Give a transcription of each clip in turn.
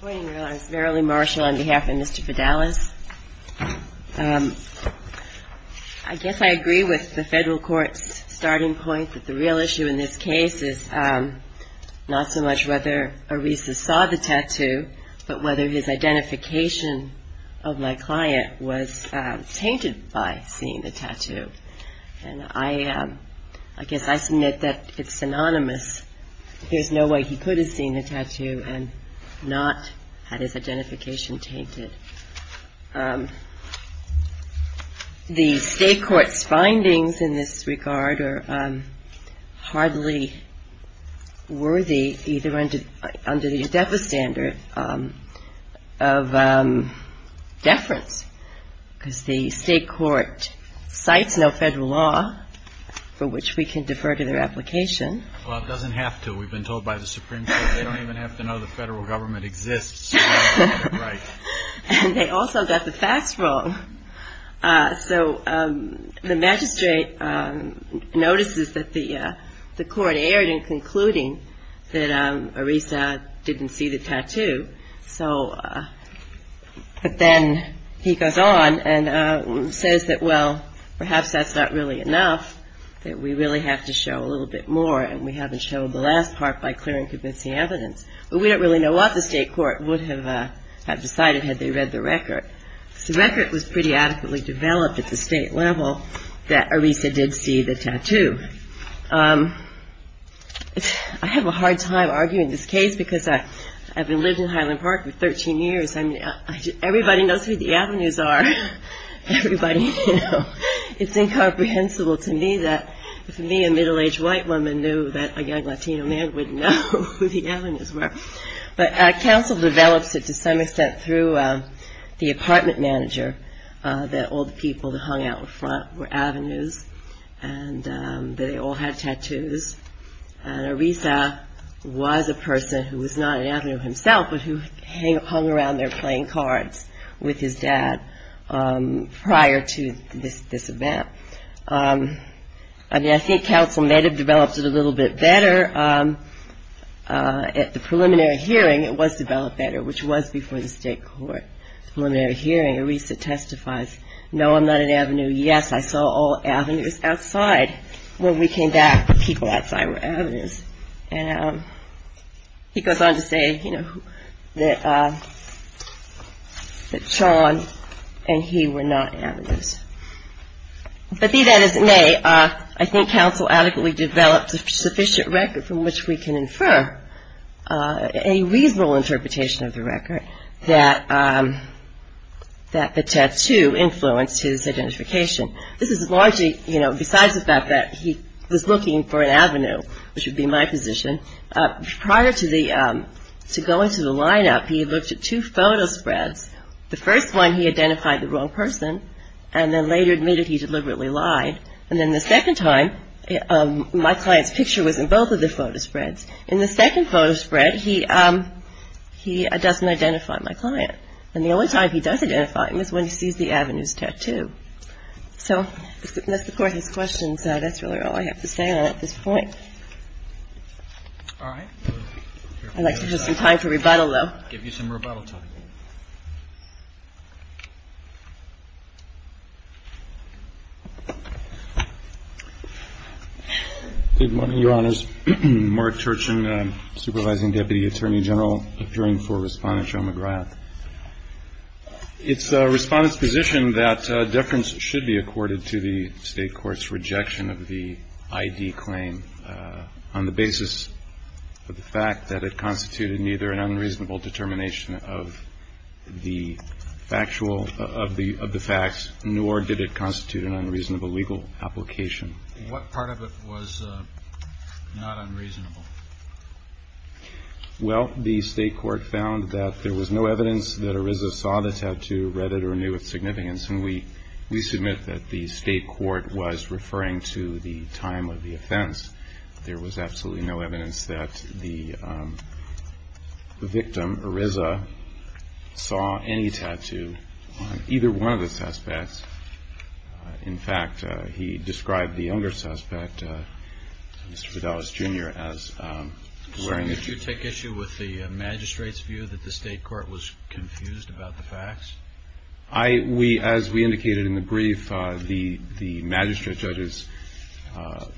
I guess I agree with the Federal Court's starting point that the real issue in this case is not so much whether Orisa saw the tattoo, but whether his identification of my client was tainted by seeing the tattoo. And I guess I submit that it's synonymous. There's no way he could have seen the tattoo and not had his identification tainted. The State Court's findings in this regard are hardly worthy, either under the EDEFA standard of deference, because the State Court cites no Federal law for which we can defer to their application. Well, it doesn't have to. We've been told by the Supreme Court they don't even have to know the Federal government exists. And they also got the facts wrong. So the magistrate notices that the court erred in concluding that Orisa didn't see the tattoo. But then he goes on and says that, well, perhaps that's not really enough, that we really have to show a little bit more, and we haven't shown the last part by clear and convincing evidence. But we don't really know what the State Court would have decided had they read the record, because the record was pretty adequately developed at the State level that Orisa did see the tattoo. I have a hard time arguing this case, because I've lived in Highland Park for 13 years. Everybody knows who the Avenues are. It's incomprehensible to me that if me, a middle-aged white woman, knew that a young Latino man would know who the Avenues were. But counsel develops it to some extent through the apartment manager, that all the people that hung out in front were Avenues, and that they all had tattoos. And Orisa was a person who was not around there playing cards with his dad prior to this event. I think counsel may have developed it a little bit better at the preliminary hearing. It was developed better, which was before the State Court preliminary hearing. Orisa testifies, no, I'm not an Avenue. Yes, I saw all Avenues outside when we came back. The people outside were Avenues. And he goes on to say, you know, that Sean and he were not Avenues. But be that as it may, I think counsel adequately developed a sufficient record from which we can infer a reasonable interpretation of the record that the tattoo influenced his identification. This is largely, you know, besides the fact that he was looking for an Avenue, which would be my position, prior to going to the lineup, he looked at two photo spreads. The first one, he identified the wrong person, and then later admitted he deliberately lied. And then the second time, my client's picture was in both of the photo spreads. In the second photo spread, he doesn't identify my client. And the only time he does identify him is when he sees the Avenue's tattoo. So, unless the Court has questions, that's really all I have to say on it at this point. All right. I'd like to give you some time for rebuttal, though. Give you some rebuttal time. Good morning, Your Honors. Mark Turchin, Supervising Deputy Attorney General, appearing for Respondent Joe McGrath. It's Respondent's position that deference should be accorded to the State court's rejection of the I.D. claim on the basis of the fact that it constituted neither an unreasonable determination of the factual of the facts, nor did it constitute an unreasonable legal application. What part of it was not unreasonable? Well, the State court found that there was no evidence that Ariza saw the tattoo, read it, or knew its significance. And we submit that the State court was referring to the time of the offense. There was absolutely no evidence that the victim, Ariza, saw any tattoo on either one of the suspects. In fact, he described the younger Did you take issue with the magistrate's view that the State court was confused about the facts? As we indicated in the brief, the magistrate judge's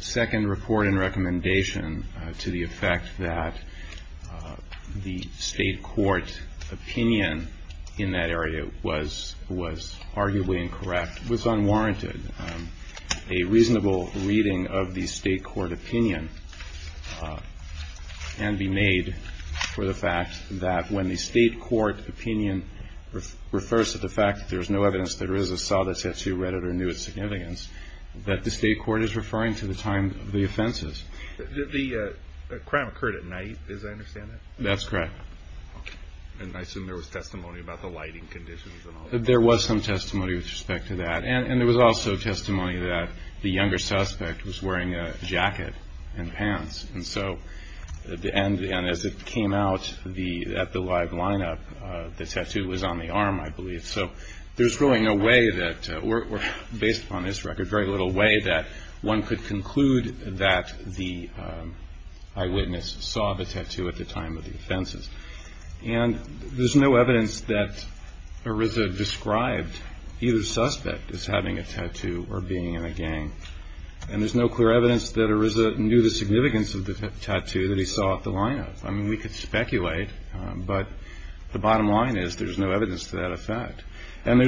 second report and recommendation to the effect that the State court opinion in that area was arguably incorrect, was unwarranted a reasonable reading of the State court opinion and be made for the fact that when the State court opinion refers to the fact that there is no evidence that Ariza saw the tattoo, read it, or knew its significance, that the State court is referring to the time of the offenses. The crime occurred at night, as I understand it? That's correct. There was some testimony with respect to that. And there was also testimony that the younger suspect was wearing a jacket and pants. And so, as it came out at the live lineup, the tattoo was on the arm, I believe. So there's really no way that, based upon this record, very little way that one could conclude that the eyewitness saw the tattoo at the time of the offenses. And there's no evidence that Ariza described either the suspect as having a tattoo or being in a gang. And there's no clear evidence that Ariza knew the significance of the tattoo that he saw at the lineup. I mean, we could speculate, but the bottom line is there's no evidence to that effect. And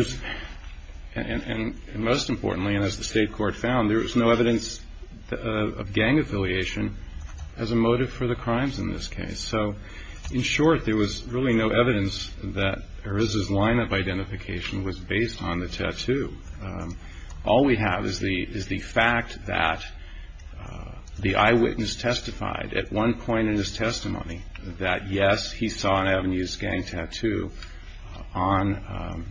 most importantly, and as the State court found, there was no evidence of gang affiliation as a motive for the crimes in this case. So, in short, there was really no evidence that Ariza's lineup identification was based on the tattoo. All we have is the fact that the eyewitness testified at one point in his testimony that, yes, he saw an Avenues gang tattoo on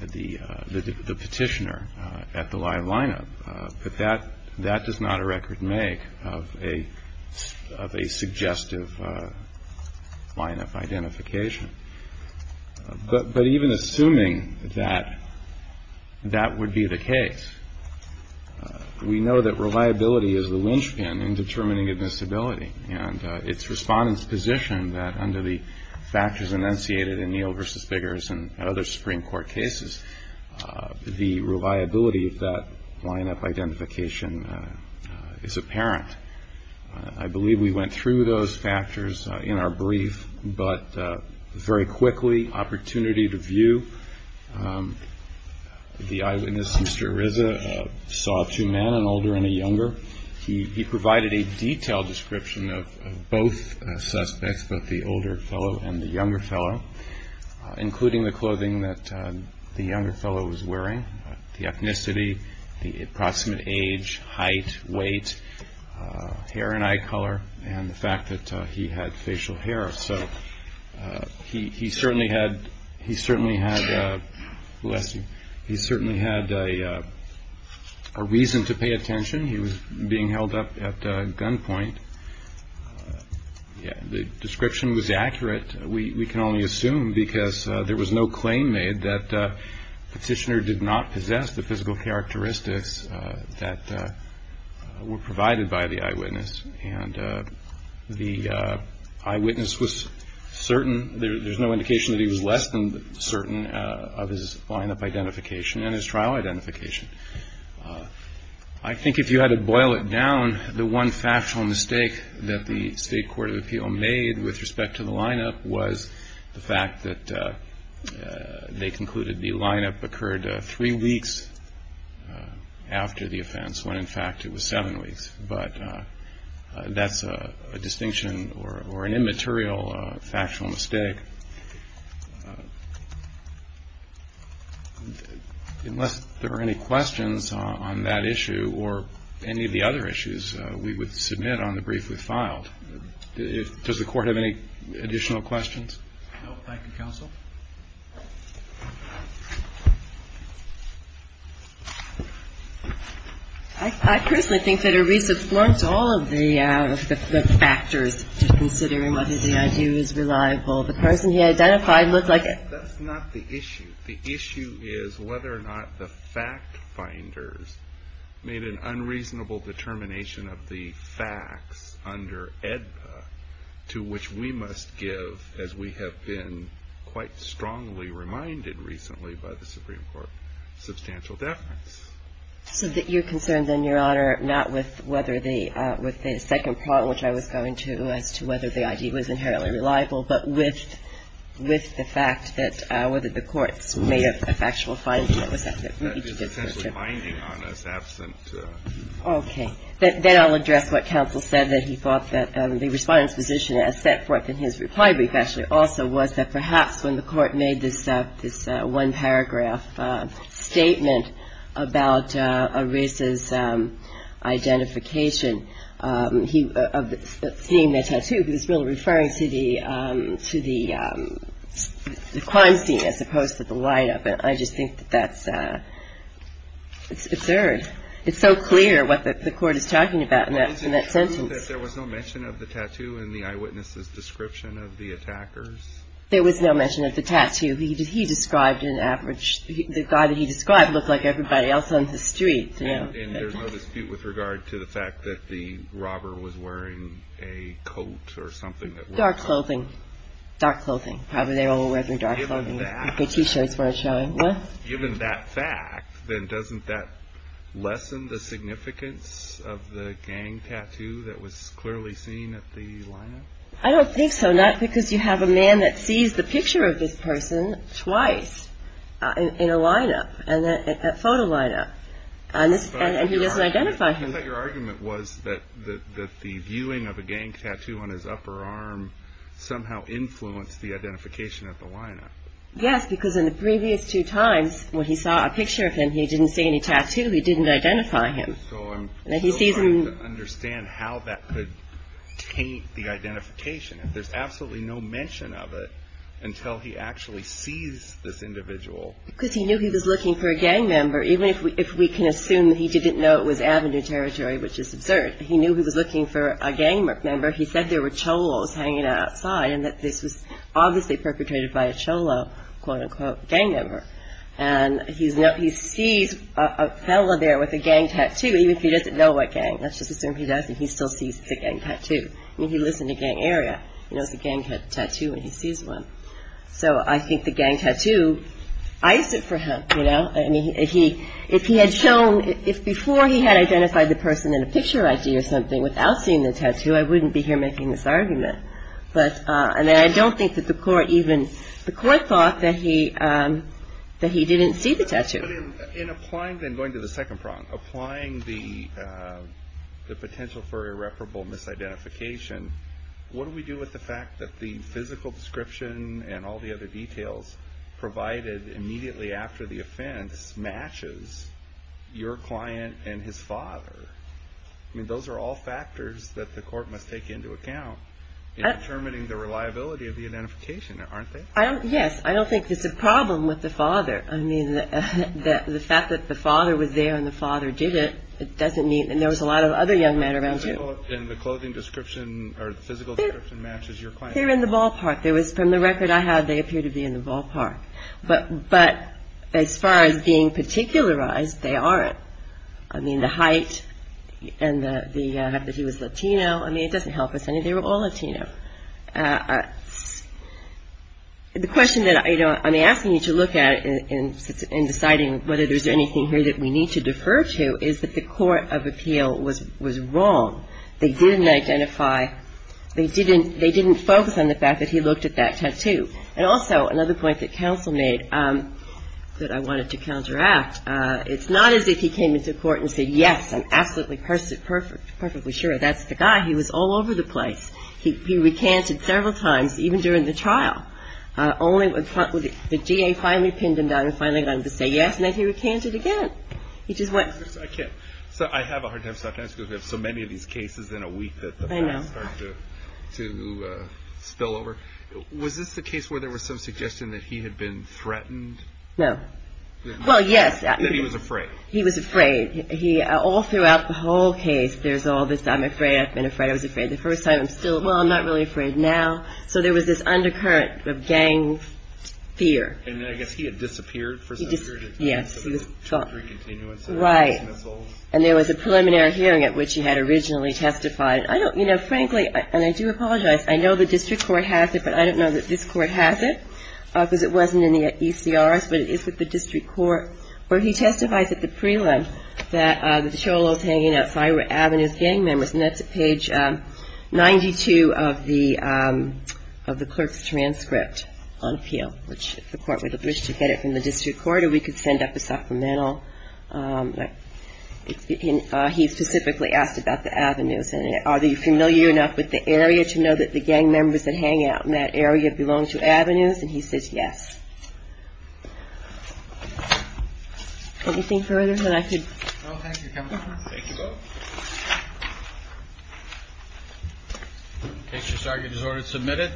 the petitioner at the live lineup. But that does not a record make of a suggestive lineup identification. But even assuming that that would be the case, we know that reliability is the linchpin in determining a disability. And it's Respondent's position that under the factors enunciated in Neal v. Biggers and other Supreme Court cases, the reliability of that lineup identification is apparent. I believe we went through those factors in our brief, but very quickly, opportunity to view. The eyewitness, Mr. Ariza, saw two men, an older and a younger. He provided a detailed description of both suspects, both the older fellow and the younger fellow, including the clothing that the younger fellow was wearing, the ethnicity, the approximate age, height, weight, hair and eye color, and the fact that he had facial hair. So he certainly had a reason to pay attention. He was being held up at gunpoint. The description was accurate. We can only assume because there was no claim made that Petitioner did not possess the physical characteristics that were provided by the eyewitness. And the eyewitness was certain. There's no indication that he was less than certain of his lineup identification and his trial identification. I think if you had to boil it down, the one factual mistake that the State Court of Appeal made with respect to the lineup was the fact that they concluded the lineup occurred three weeks after the offense, when, in fact, it was seven weeks. But that's a distinction or an immaterial factual mistake. Unless there are any questions on that issue or any of the other issues, we would submit on the brief we've filed. Does the Court have any additional questions? No. Thank you, Counsel. I personally think that a reason for all of the factors, to consider whether the ID was reliable, the person he identified looked like it. That's not the issue. The issue is whether or not the fact finders made an unreasonable determination of the facts under AEDPA to which we must give, as we have been quite strongly reminded recently by the Supreme Court, substantial deference. So you're concerned, then, Your Honor, not with whether the second part, which I was going to, as to whether the ID was inherently reliable, but with the fact that whether the courts made a factual finding that was necessary. That is essentially a finding on us absent. Okay. Then I'll address what Counsel said, that he thought that the Respondent's position as set forth in his reply brief was that perhaps when the Court made this one-paragraph statement about Arisa's identification of seeing the tattoo, he was really referring to the crime scene as opposed to the lineup. And I just think that that's absurd. It's so clear what the Court is talking about in that sentence. There was no mention of the tattoo in the eyewitness's description of the attackers? There was no mention of the tattoo. He described an average – the guy that he described looked like everybody else on the street. And there's no dispute with regard to the fact that the robber was wearing a coat or something? Dark clothing. Dark clothing. Probably they all were wearing dark clothing. Given that fact, then doesn't that lessen the significance of the gang tattoo that was clearly seen at the lineup? I don't think so, not because you have a man that sees the picture of this person twice in a lineup, at that photo lineup, and he doesn't identify him. I thought your argument was that the viewing of a gang tattoo on his upper arm somehow influenced the identification at the lineup. Yes, because in the previous two times when he saw a picture of him, he didn't see any tattoo. He didn't identify him. So I'm still trying to understand how that could taint the identification. There's absolutely no mention of it until he actually sees this individual. Because he knew he was looking for a gang member, even if we can assume that he didn't know it was Avenue territory, which is absurd. He knew he was looking for a gang member. He said there were cholos hanging outside and that this was obviously perpetrated by a cholo, quote-unquote, gang member. And he sees a fellow there with a gang tattoo, even if he doesn't know what gang. Let's just assume he doesn't. He still sees the gang tattoo. I mean, he lives in a gang area. He knows a gang tattoo, and he sees one. So I think the gang tattoo iced it for him, you know. I mean, if he had shown, if before he had identified the person in a picture ID or something without seeing the tattoo, I wouldn't be here making this argument. And I don't think that the court even, the court thought that he didn't see the tattoo. In applying, then going to the second problem, applying the potential for irreparable misidentification, what do we do with the fact that the physical description and all the other details provided immediately after the offense matches your client and his father? I mean, those are all factors that the court must take into account. Determining the reliability of the identification, aren't they? Yes. I don't think it's a problem with the father. I mean, the fact that the father was there and the father did it, it doesn't mean, and there was a lot of other young men around too. And the clothing description or physical description matches your client. They're in the ballpark. From the record I have, they appear to be in the ballpark. But as far as being particularized, they aren't. I mean, the height and the fact that he was Latino, I mean, it doesn't help us. I mean, they were all Latino. The question that I'm asking you to look at in deciding whether there's anything here that we need to defer to is that the court of appeal was wrong. They didn't identify, they didn't focus on the fact that he looked at that tattoo. And also, another point that counsel made that I wanted to counteract, it's not as if he came into court and said, yes, I'm absolutely, perfectly sure that's the guy. He was all over the place. He recanted several times, even during the trial. Only when the DA finally pinned him down and finally got him to say yes, and then he recanted again. He just went. I have a hard time stopping, because we have so many of these cases in a week that the facts start to spill over. Was this the case where there was some suggestion that he had been threatened? No. Well, yes. That he was afraid. He was afraid. All throughout the whole case, there's all this, I'm afraid, I've been afraid, I was afraid. The first time, I'm still, well, I'm not really afraid now. So there was this undercurrent of gang fear. And I guess he had disappeared for some period of time. He disappeared, yes. He was caught. Three continuances. Right. And there was a preliminary hearing at which he had originally testified. I don't, you know, frankly, and I do apologize, I know the district court has it, but I don't know that this court has it, because it wasn't in the ECRS, but it is with the district court, where he testifies at the prelim that the cholo was hanging outside of Avenue's gang members. And that's at page 92 of the clerk's transcript on appeal, which the court would have wished to get it from the district court, or we could send up a supplemental. He specifically asked about the Avenues. Are they familiar enough with the area to know that the gang members that hang out in that area belong to Avenues? And he says yes. Anything further that I could? No, thank you, counsel. Thank you both. Okay, so this argument is ordered and submitted.